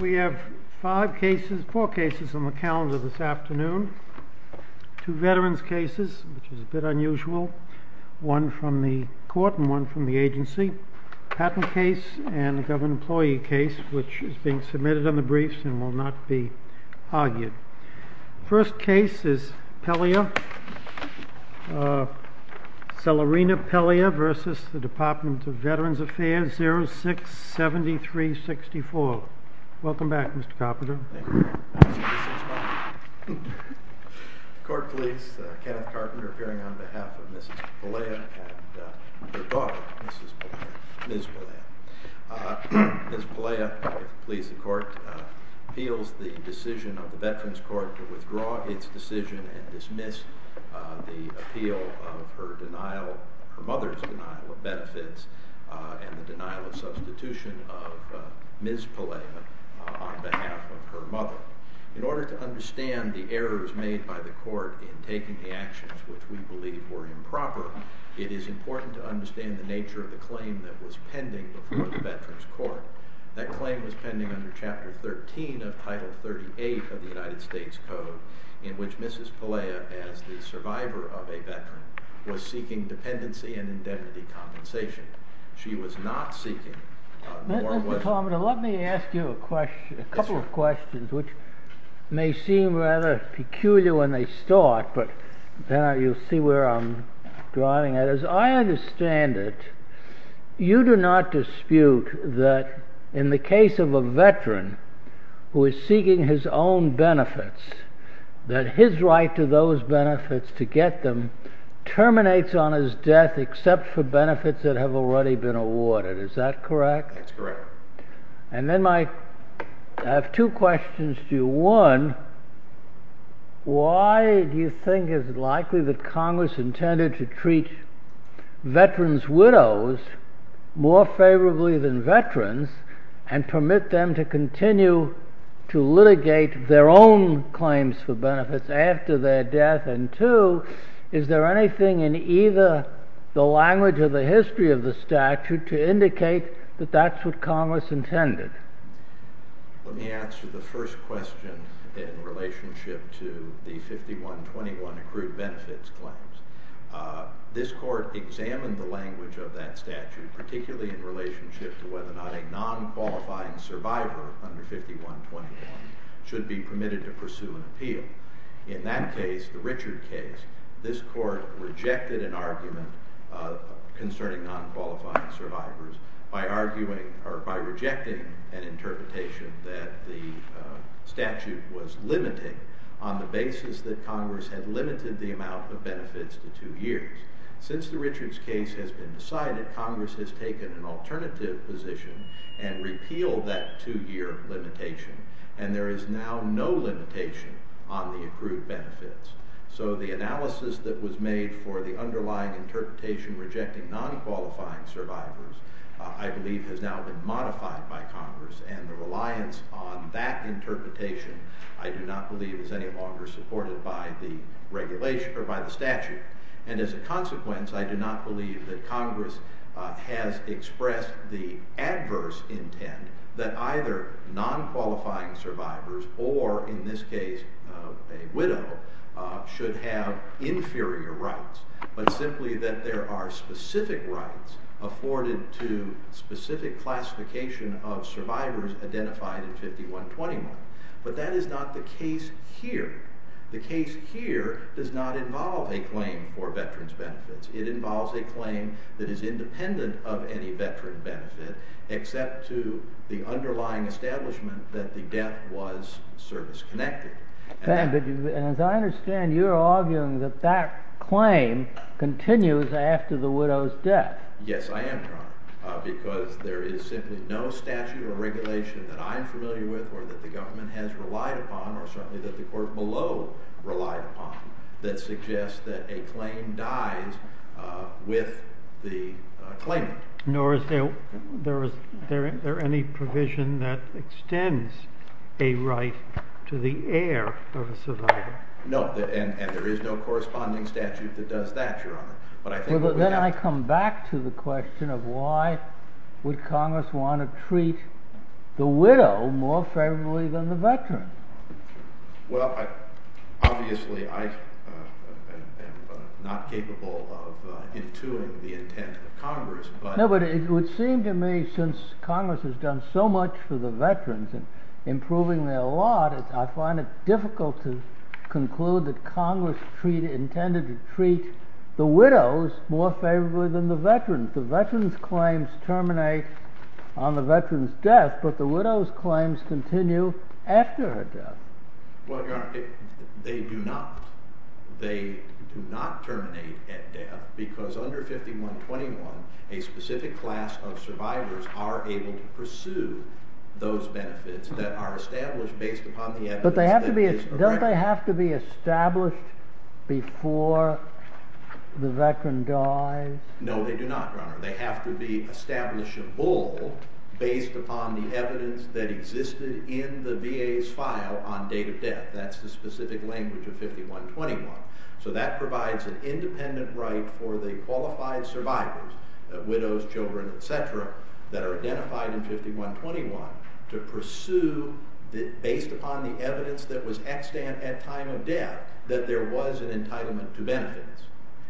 We have four cases on the calendar this afternoon, two veterans cases, which is a bit unusual, one from the court and one from the agency, a patent case and a government employee case which is being submitted on the briefs and will not be argued. First case is Pelea, Cellerina Pelea v. Department of Veterans Affairs, 06-7364. Welcome back, Mr. Carpenter. The court please, Kenneth Carpenter appearing on behalf of Mrs. Pelea and her daughter, Mrs. Pelea, please the court, appeals the decision of the Veterans Court to withdraw its decision and dismiss the appeal of her denial, her mother's denial of benefits and the denial of substitution of Ms. Pelea on behalf of her mother. In order to understand the errors made by the court in taking the actions which we believe were improper, it is important to understand the nature of the claim that was pending before the Veterans Court. That claim was pending under Chapter 13 of Title 38 of the United States Code in which Mrs. Pelea, as the survivor of a veteran, was seeking dependency and indemnity compensation. She was not seeking more than what... Mr. Carpenter, let me ask you a couple of questions which may seem rather peculiar when they start, but you'll see where I'm driving at. As I understand it, you do not dispute that in the case of a veteran who is seeking his own benefits, that his right to those benefits, to get them, terminates on his death except for benefits that have already been awarded. Is that correct? That's correct. And then I have two questions to you. One, why do you think it's likely that Congress intended to treat veterans' widows more favorably than veterans and permit them to continue to litigate their own claims for benefits after their death? And two, is there anything in either the language or the history of the statute to indicate that that's what Congress intended? Let me answer the first question in relationship to the 5121 accrued benefits claims. This Court examined the language of that statute, particularly in relationship to whether or not a non-qualifying survivor under 5121 should be permitted to pursue an appeal. In that case, the Richard case, this Court rejected an argument concerning non-qualifying survivors by arguing, or by rejecting, an interpretation that the statute was limiting on the basis that Congress had limited the amount of benefits to two years. Since the Richards case has been decided, Congress has taken an alternative position and repealed that two-year limitation, and there is now no limitation on the accrued benefits. So the analysis that was made for the underlying interpretation rejecting non-qualifying survivors, I believe, has now been modified by Congress, and the reliance on that interpretation, I do not believe, is any longer supported by the regulation, or by the statute. And as a consequence, I do not believe that Congress has expressed the adverse intent that either non-qualifying survivors, or in this case, a widow, should have inferior rights, but simply that there are specific rights afforded to specific classification of survivors identified in 51201. But that is not the case here. The case here does not involve a claim for veterans' benefits. It involves a claim that is independent of any veteran benefit, except to the underlying establishment that the debt was service-connected. And as I understand, you're arguing that that claim continues after the widow's death. Yes, I am, Your Honor, because there is simply no statute or regulation that I'm familiar with, or that the government has relied upon, or certainly that the court below relied upon, that suggests that a claim dies with the claimant. Nor is there any provision that extends a right to the heir of a survivor. No, and there is no corresponding statute that does that, Your Honor. Then I come back to the question of why would Congress want to treat the widow more favorably than the veteran. Well, obviously, I am not capable of intuing the intent of Congress, but— No, but it would seem to me, since Congress has done so much for the veterans, and improving their lot, I find it difficult to conclude that Congress intended to treat the widows more favorably than the veterans. The veterans' claims terminate on the veteran's death, but the widow's claims continue after her death. Well, Your Honor, they do not. They do not terminate at death, because under 5121, a specific class of survivors are able to pursue those benefits that are established based upon the evidence— Don't they have to be established before the veteran dies? No, they do not, Your Honor. They have to be establishable based upon the evidence that existed in the VA's file on date of death. That's the specific language of 5121. So that provides an independent right for the qualified survivors, widows, children, etc., that are identified in 5121 to pursue, based upon the evidence that was extant at time of death, that there was an entitlement to benefits.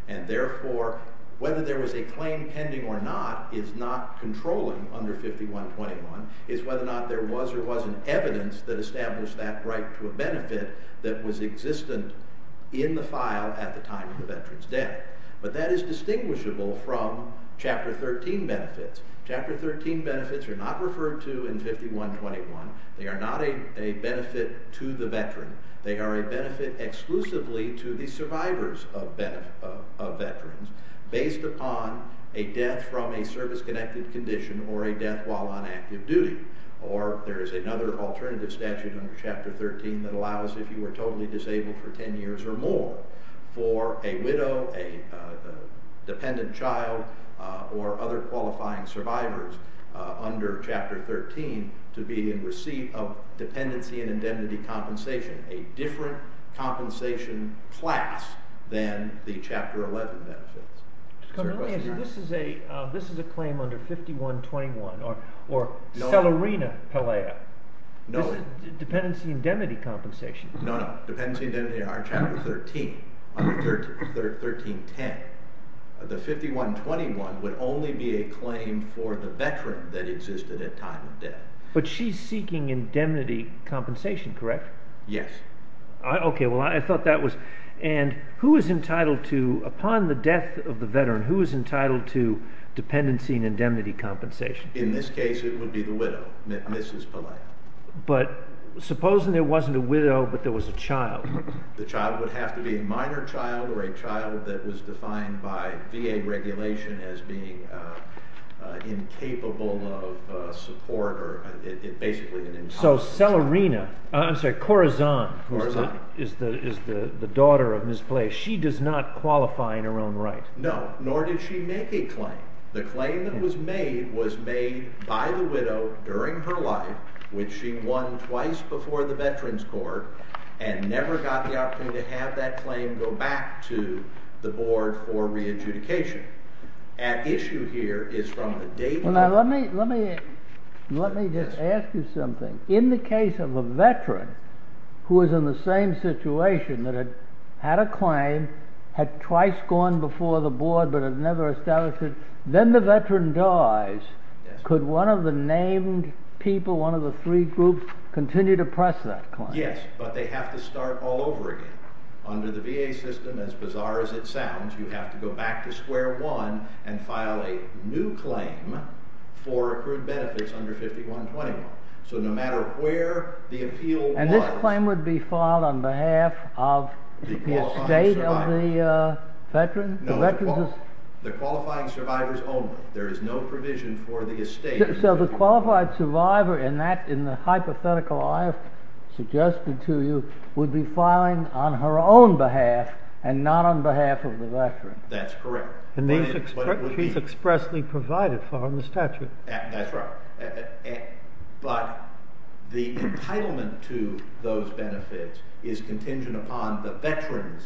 And therefore, whether there was a claim pending or not is not controlling under 5121. It's whether or not there was or wasn't evidence that established that right to a benefit that was existent in the file at the time of the veteran's death. But that is distinguishable from Chapter 13 benefits. Chapter 13 benefits are not referred to in 5121. They are not a benefit to the veteran. They are a benefit exclusively to the survivors of veterans, based upon a death from a service connected condition or a death while on active duty. Or there is another alternative statute under Chapter 13 that allows if you were totally disabled for 10 years or more, for a widow, a dependent child, or other qualifying survivors under Chapter 13 to be in receipt of dependency and indemnity compensation, a different compensation class than the Chapter 11 benefits. So let me ask you, this is a claim under 5121, or Celerina Pelea. No. Dependency and indemnity compensation. No, no. Dependency and indemnity are in Chapter 13, under 1310. The 5121 would only be a claim for the veteran that existed at time of death. But she's seeking indemnity compensation, correct? Yes. Okay. Well, I thought that was... And who is entitled to, upon the death of the veteran, who is entitled to dependency and indemnity compensation? In this case, it would be the widow, Mrs. Pelea. But supposing there wasn't a widow, but there was a child. The child would have to be a minor child, or a child that was defined by VA regulation as being incapable of support, or basically an incompetent child. So Celerina, I'm sorry, Corazon, who is the daughter of Mrs. Pelea, she does not qualify in her own right? No, nor did she make a claim. The claim that was made was made by the widow during her life, which she won twice before the Veterans Court, and never got the opportunity to have that claim go back to the board for re-adjudication. At issue here is from the date... Now, let me just ask you something. In the case of a veteran who was in the same situation that had had a claim, had twice gone before the board, but had never established it, then the veteran dies, could one of the named people, one of the three groups, continue to press that claim? Yes, but they have to start all over again. Under the VA system, as bizarre as it sounds, you have to go back to square one and file a new claim for accrued benefits under 5121. So no matter where the appeal was... No, the qualifying survivor's only. There is no provision for the estate... So the qualified survivor, in the hypothetical I have suggested to you, would be filing on her own behalf and not on behalf of the veteran? That's correct. He's expressly provided for in the statute. That's right. But the entitlement to those benefits is contingent upon the veteran's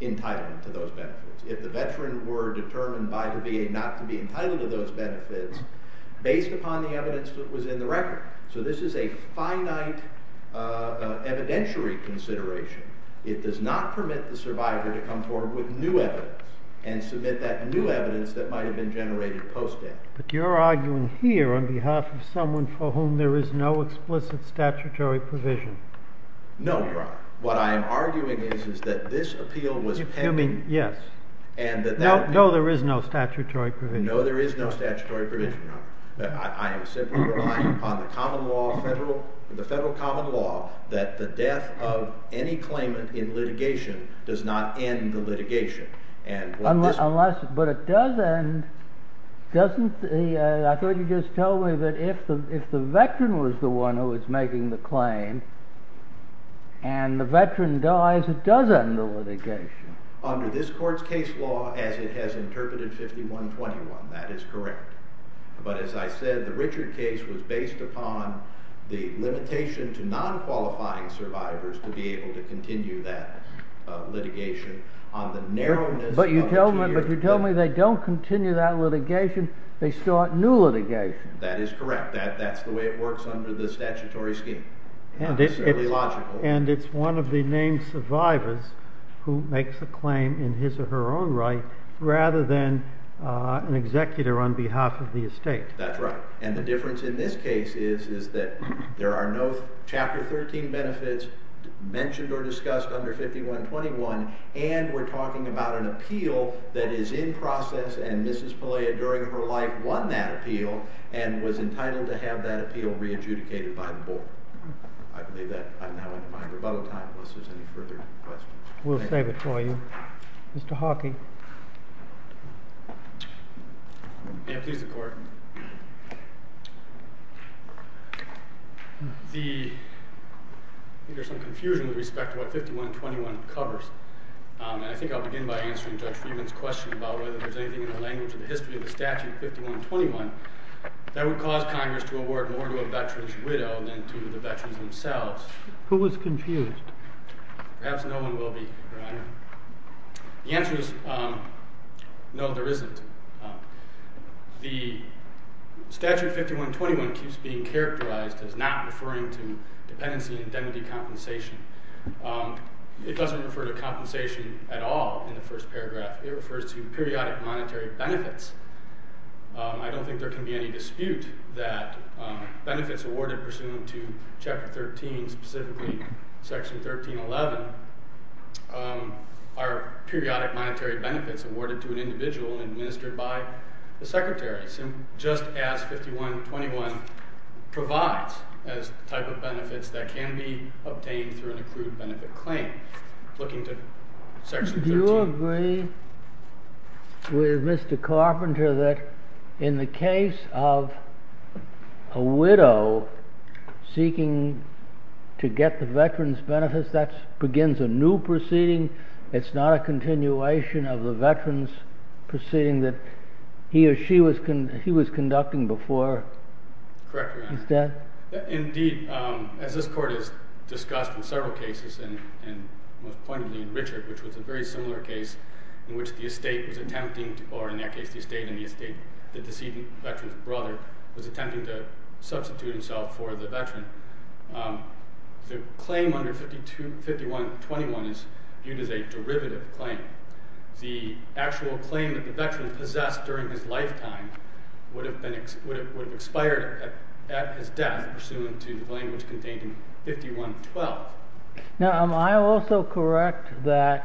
entitlement to those benefits. If the veteran were determined by the VA not to be entitled to those benefits, based upon the evidence that was in the record. So this is a finite evidentiary consideration. It does not permit the survivor to come forward with new evidence and submit that new evidence that might have been generated post-death. But you're arguing here on behalf of someone for whom there is no explicit statutory provision? No, Your Honor. What I am arguing is that this appeal was pending... Yes. No, there is no statutory provision. No, there is no statutory provision, Your Honor. I am simply relying upon the federal common law that the death of any claimant in litigation does not end the litigation. But it does end... I thought you just told me that if the veteran was the one who was making the claim and the veteran dies, it does end the litigation. Under this court's case law, as it has interpreted 5121, that is correct. But as I said, the Richard case was based upon the limitation to non-qualifying survivors to be able to continue that litigation on the narrowness of... But you tell me they don't continue that litigation. They start new litigation. That is correct. That's the way it works under the statutory scheme. It's fairly logical. And it's one of the named survivors who makes a claim in his or her own right rather than an executor on behalf of the estate. That's right. And the difference in this case is that there are no Chapter 13 benefits mentioned or discussed under 5121, and we're talking about an appeal that is in process, and Mrs. Pelea during her life won that appeal and was entitled to have that appeal re-adjudicated by the board. I believe that I now end my rebuttal time unless there's any further questions. We'll save it for you. Mr. Hawking. May it please the Court. The... I think there's some confusion with respect to what 5121 covers. And I think I'll begin by answering Judge Freeman's question about whether there's anything in the language of the history of the statute 5121 that would cause Congress to award more to a veteran's widow than to the veterans themselves. Who was confused? Perhaps no one will be, Your Honor. The answer is no, there isn't. The statute 5121 keeps being characterized as not referring to dependency and indemnity compensation. It doesn't refer to compensation at all in the first paragraph. It refers to periodic monetary benefits. I don't think there can be any dispute that benefits awarded pursuant to Chapter 13, specifically Section 1311, are periodic monetary benefits awarded to an individual administered by the Secretary, just as 5121 provides as a type of benefits that can be obtained through an accrued benefit claim. Looking to Section 13. Do you agree with Mr. Carpenter that in the case of a widow seeking to get the veteran's benefits, that begins a new proceeding? It's not a continuation of the veteran's proceeding that he or she was conducting before? Correct, Your Honor. Is that...? Indeed, as this Court has discussed in several cases, and most poignantly in Richard, which was a very similar case in which the estate was attempting, or in that case the estate and the estate, the decedent veteran's brother, was attempting to substitute himself for the veteran. The claim under 5121 is viewed as a derivative claim. The actual claim that the veteran possessed during his lifetime would have expired at his death pursuant to the language contained in 5112. Now, am I also correct that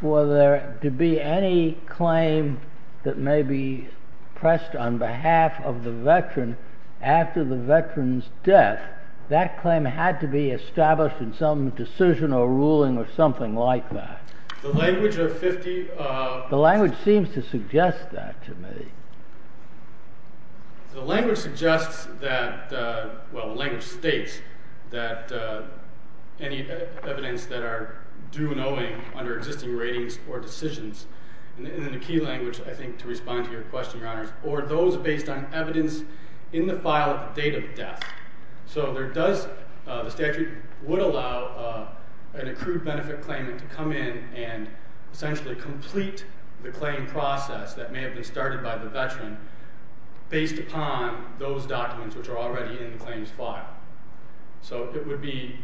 for there to be any claim that may be pressed on behalf of the veteran after the veteran's death, that claim had to be established in some decision or ruling or something like that? The language of 5121... The language seems to suggest that to me. The language suggests that, well, the language states that any evidence that are due and owing under existing ratings or decisions, and in the key language, I think, to respond to your question, Your Honors, or those based on evidence in the file at the date of death. So there does, the statute would allow an accrued benefit claimant to come in and essentially complete the claim process that may have been started by the veteran based upon those documents which are already in the claims file. So it would be,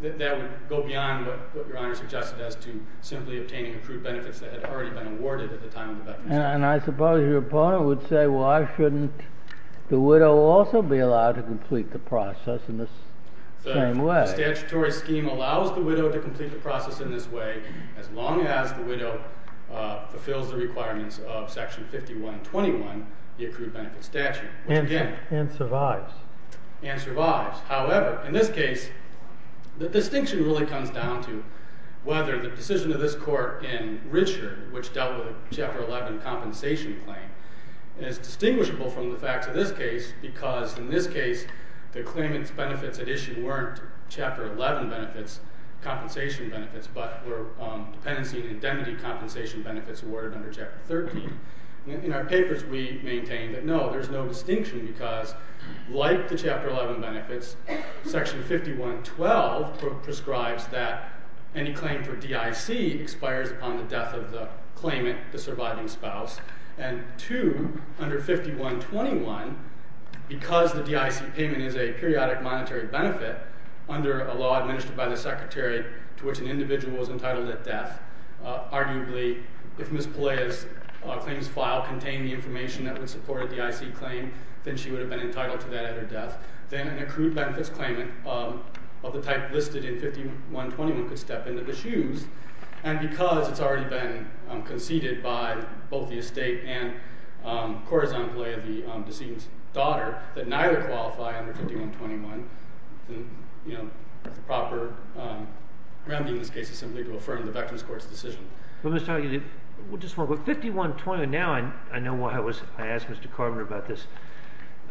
that would go beyond what Your Honor suggested as to simply obtaining accrued benefits that had already been awarded at the time of the veteran's death. And I suppose your opponent would say, well, why shouldn't the widow also be allowed to complete the process in the same way? The statutory scheme allows the widow to complete the process in this way as long as the widow fulfills the requirements of section 5121, the accrued benefit statute. And survives. And survives. However, in this case, the distinction really comes down to whether the decision of this court in Richard, which dealt with a Chapter 11 compensation claim, is distinguishable from the facts of this case because in this case, the claimant's benefits at issue weren't Chapter 11 benefits, compensation benefits, but were dependency and indemnity compensation benefits awarded under Chapter 13. In our papers, we maintain that no, there's no distinction because like the Chapter 11 benefits, Section 5112 prescribes that any claim for DIC expires upon the death of the claimant, the surviving spouse. And two, under 5121, because the DIC payment is a periodic monetary benefit under a law administered by the secretary to which an individual is entitled at death, arguably if Ms. Pelea's claims file contained the information that would support a DIC claim, then she would have been entitled to that at her death. Then an accrued benefits claimant of the type listed in 5121 could step into the shoes. And because it's already been conceded by both the estate and Corazon Pelea, the decedent's daughter, that neither qualify under 5121, the proper remedy in this case is simply to affirm the veteran's court's decision. But Mr. Hagee, just one quick, 5121, now I know why I asked Mr. Carver about this.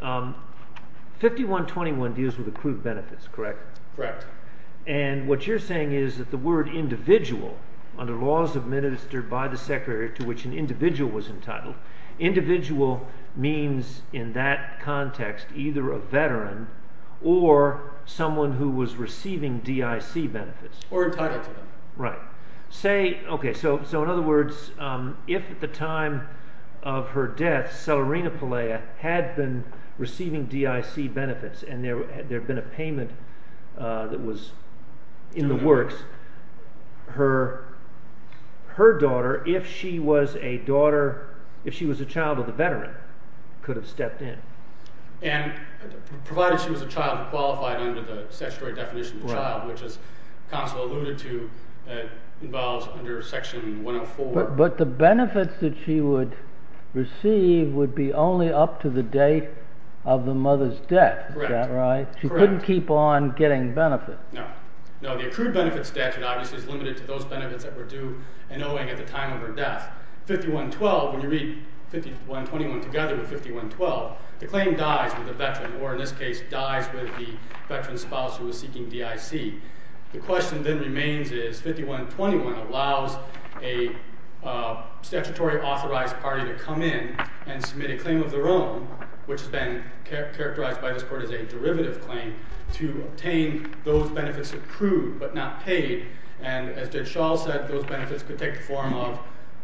5121 deals with accrued benefits, correct? Correct. And what you're saying is that the word individual, under laws administered by the secretary to which an individual was entitled, individual means in that context either a veteran or someone who was receiving DIC benefits. Or entitled to them. Right. Okay, so in other words, if at the time of her death, Celerina Pelea had been receiving DIC benefits and there had been a payment that was in the works, her daughter, if she was a daughter, if she was a child of a veteran, could have stepped in. And provided she was a child qualified under the statutory definition of child, which as counsel alluded to, involves under section 104. But the benefits that she would receive would be only up to the date of the mother's death, is that right? Correct. She couldn't keep on getting benefits. No. No, the accrued benefits statute obviously is limited to those benefits that were due and owing at the time of her death. 5112, when you read 5121 together with 5112, the claim dies with the veteran, or in this case dies with the veteran's spouse who was seeking DIC. The question then remains is 5121 allows a statutory authorized party to come in and submit a claim of their own, which has been characterized by this court as a derivative claim, to obtain those benefits accrued but not paid. And as Judge Schall said, those benefits could take the form of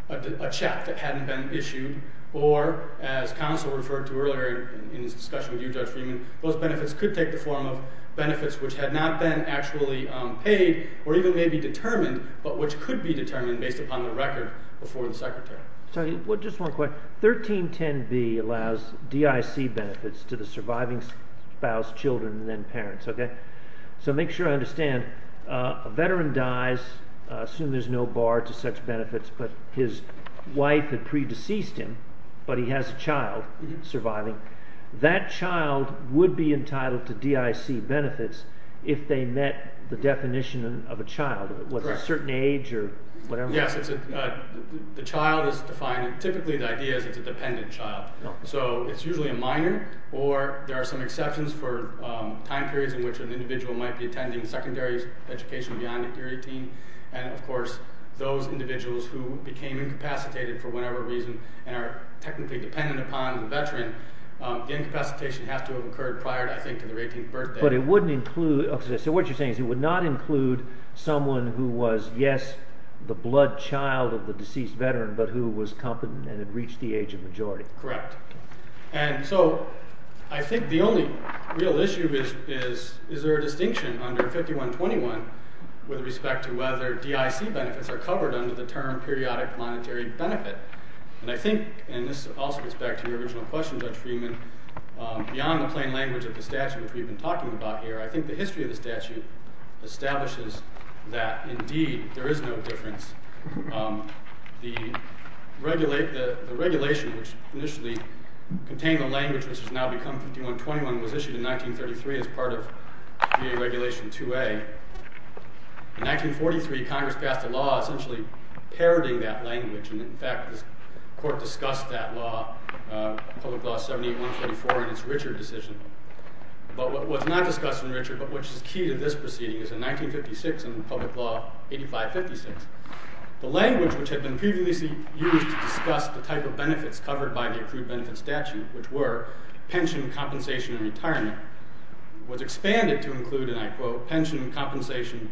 a check that hadn't been issued, or as counsel referred to earlier in his discussion with you, Judge Freeman, those benefits could take the form of benefits which had not been actually paid or even maybe determined, but which could be determined based upon the record before the secretary. So just one quick, 1310B allows DIC benefits to the surviving spouse, children, and then parents, okay? So make sure I understand, a veteran dies, assume there's no bar to such benefits, but his wife had predeceased him, but he has a child surviving. That child would be entitled to DIC benefits if they met the definition of a child, a certain age or whatever. Yes, the child is defined, typically the idea is it's a dependent child. So it's usually a minor, or there are some exceptions for time periods in which an individual might be attending secondary education beyond the period of 18, and of course those individuals who became incapacitated for whatever reason and are technically dependent upon the veteran the incapacitation has to have occurred prior, I think, to their 18th birthday. But it wouldn't include, okay, so what you're saying is it would not include someone who was, yes, the blood child of the deceased veteran, but who was competent and had reached the age of majority. Correct, and so I think the only real issue is, is there a distinction under 5121 with respect to whether DIC benefits are covered under the term periodic monetary benefit? And I think, and this also goes back to your original question, Judge Freeman, beyond the plain language of the statute which we've been talking about here, I think the history of the statute establishes that indeed there is no difference. The regulation which initially contained the language which has now become 5121 was issued in 1933 as part of VA Regulation 2A. In 1943, Congress passed a law essentially parroting that language, and in fact the court discussed that law, Public Law 78-134, in its Richard decision. But what's not discussed in Richard, but which is key to this proceeding, is in 1956 in Public Law 8556, the language which had been previously used to discuss the type of benefits covered by the accrued benefit statute, which were pension, compensation, and retirement, was included in the statute, which included pension, compensation,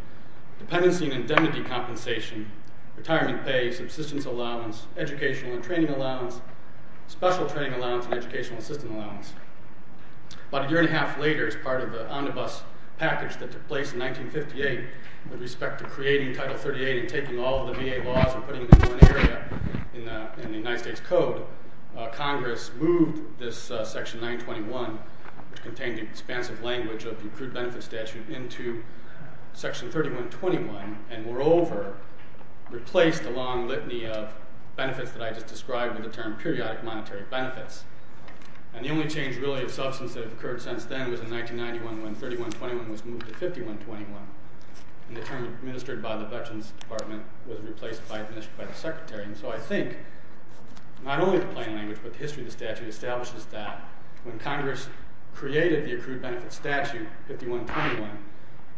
dependency and indemnity compensation, retirement pay, subsistence allowance, educational and training allowance, special training allowance, and educational assistance allowance. About a year and a half later, as part of the omnibus package that took place in 1958 with respect to creating Title 38 and taking all of the VA laws and putting them into one area in the United States Code, Congress moved this section 921, which contained the expansive language of the accrued benefit statute, into section 3121, and moreover replaced the long litany of benefits that I just described with the term periodic monetary benefits. And the only change really of substance that had occurred since then was in 1991 when 3121 was moved to 5121, and the term administered by the Veterans Department was replaced by the Secretary. And so I think, not only the plain language, but the history of the statute establishes that when Congress created the accrued benefit statute, 5121,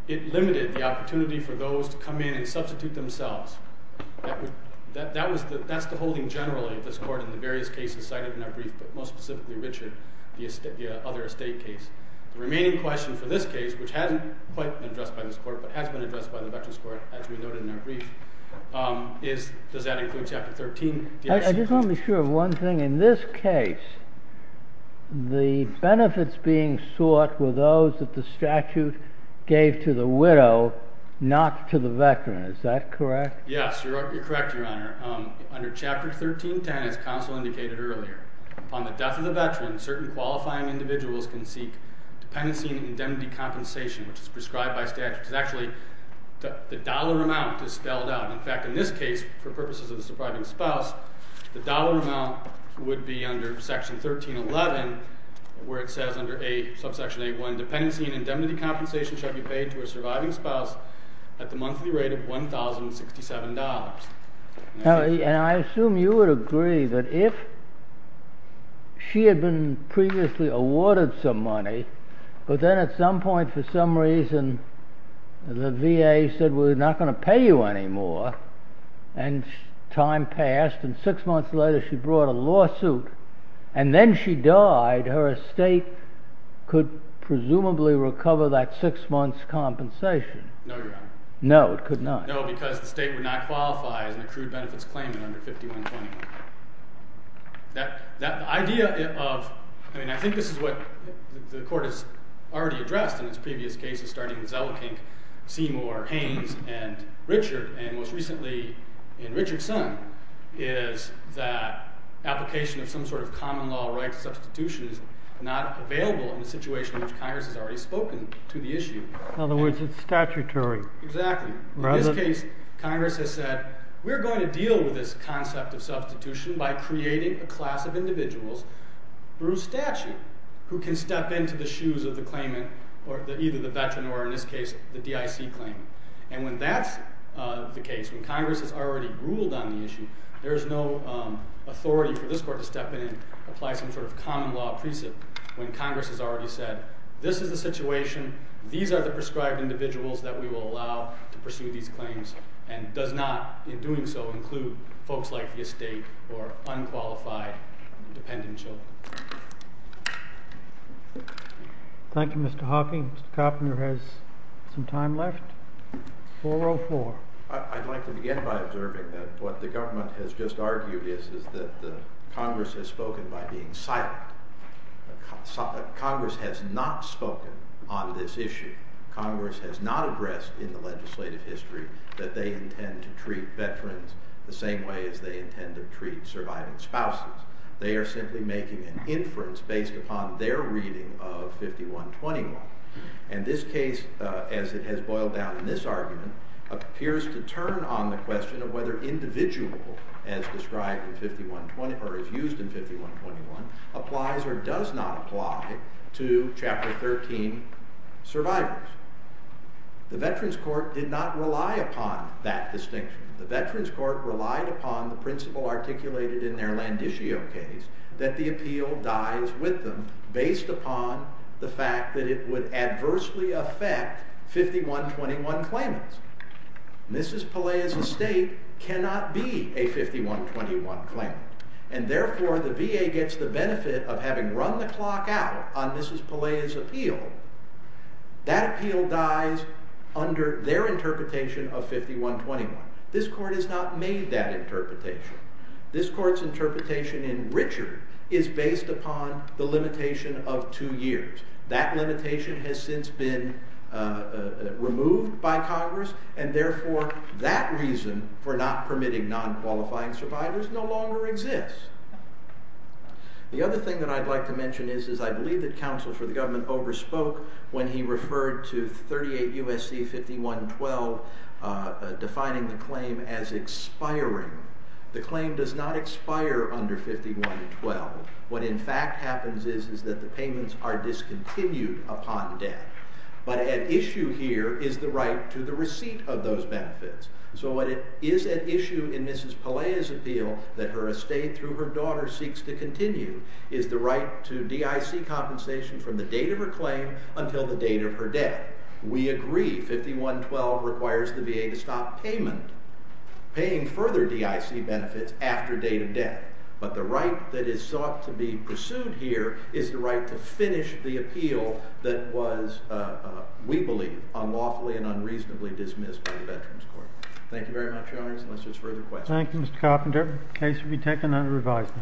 it limited the opportunity for those to come in and substitute themselves. That's the holding generally of this Court in the various cases cited in our brief, but most specifically, Richard, the other estate case. The remaining question for this case, which hasn't quite been addressed by this Court, but has been addressed by the Veterans Court, as we noted in our brief, is does that include Chapter 13? I just want to be sure of one thing. In this case, the benefits being sought were those that the statute gave to the widow, not to the veteran. Is that correct? Yes, you're correct, Your Honor. Under Chapter 13.10, as counsel indicated earlier, upon the death of the veteran, certain qualifying individuals can seek dependency and indemnity compensation, which is prescribed by statute. It's actually the dollar amount that's spelled out. In fact, in this case, for purposes of the surviving spouse, the dollar amount would be under Section 13.11, where it says under Subsection 8.1, dependency and indemnity compensation shall be paid to a surviving spouse at the monthly rate of $1,067. And I assume you would agree that if she had been previously awarded some money, but then at some point, for some reason, the VA said, well, we're not going to pay you anymore, and time passed. And six months later, she brought a lawsuit. And then she died. Her estate could presumably recover that six months' compensation. No, Your Honor. No, it could not. No, because the state would not qualify as an accrued benefits claimant under 51-21. I mean, I think this is what the Court has already addressed in its previous cases, starting with Zelikink, Seymour, Haynes, and Richard. And most recently, in Richard's son, is that application of some sort of common law right to substitution is not available in the situation in which Congress has already spoken to the issue. In other words, it's statutory. Exactly. In this case, Congress has said, we're going to deal with this concept of substitution by creating a class of individuals through statute who can step into the shoes of the claimant, or either the veteran, or in this case, the DIC claimant. And when that's the case, when Congress has already ruled on the issue, there is no authority for this Court to step in and apply some sort of common law precinct when Congress has already said, this is the situation. These are the prescribed individuals that we will allow to pursue these claims, and does not, in doing so, include folks like the estate or unqualified dependent children. Thank you, Mr. Hawking. Mr. Koppner has some time left. 404. I'd like to begin by observing that what the government has just argued is that Congress has spoken by being silent. Congress has not spoken on this issue. Congress has not addressed in the legislative history that they intend to treat veterans the same way as they intend to treat surviving spouses. They are simply making an inference based upon their reading of 5121. And this case, as it has boiled down in this argument, appears to turn on the question of whether individual, as described in 5121, or as used in 5121, applies or does not apply to Chapter 13 survivors. The Veterans Court did not rely upon that distinction. The Veterans Court relied upon the principle articulated in their Landiscio case, that the appeal dies with them based upon the fact that it would adversely affect 5121 claimants. Mrs. Pelea's estate cannot be a 5121 claimant, and therefore the VA gets the benefit of having run the clock out on Mrs. Pelea's appeal. That appeal dies under their interpretation of 5121. This Court has not made that interpretation. This Court's interpretation in Richard is based upon the limitation of two years. That limitation has since been removed by Congress, and therefore that reason for not permitting non-qualifying survivors no longer exists. The other thing that I'd like to mention is I believe that counsel for the government overspoke when he referred to 38 U.S.C. 5112 defining the claim as expiring. The claim does not expire under 5112. What in fact happens is that the payments are discontinued upon death. But at issue here is the right to the receipt of those benefits. So what is at issue in Mrs. Pelea's appeal that her estate through her daughter seeks to continue is the right to DIC compensation from the date of her claim until the date of her death. We agree 5112 requires the VA to stop payment, paying further DIC benefits after date of death. But the right that is sought to be pursued here is the right to finish the appeal that was, we believe, unlawfully and unreasonably dismissed by the Veterans Court. Thank you very much, Your Honors. Unless there's further questions. Thank you, Mr. Carpenter. The case will be taken under revised.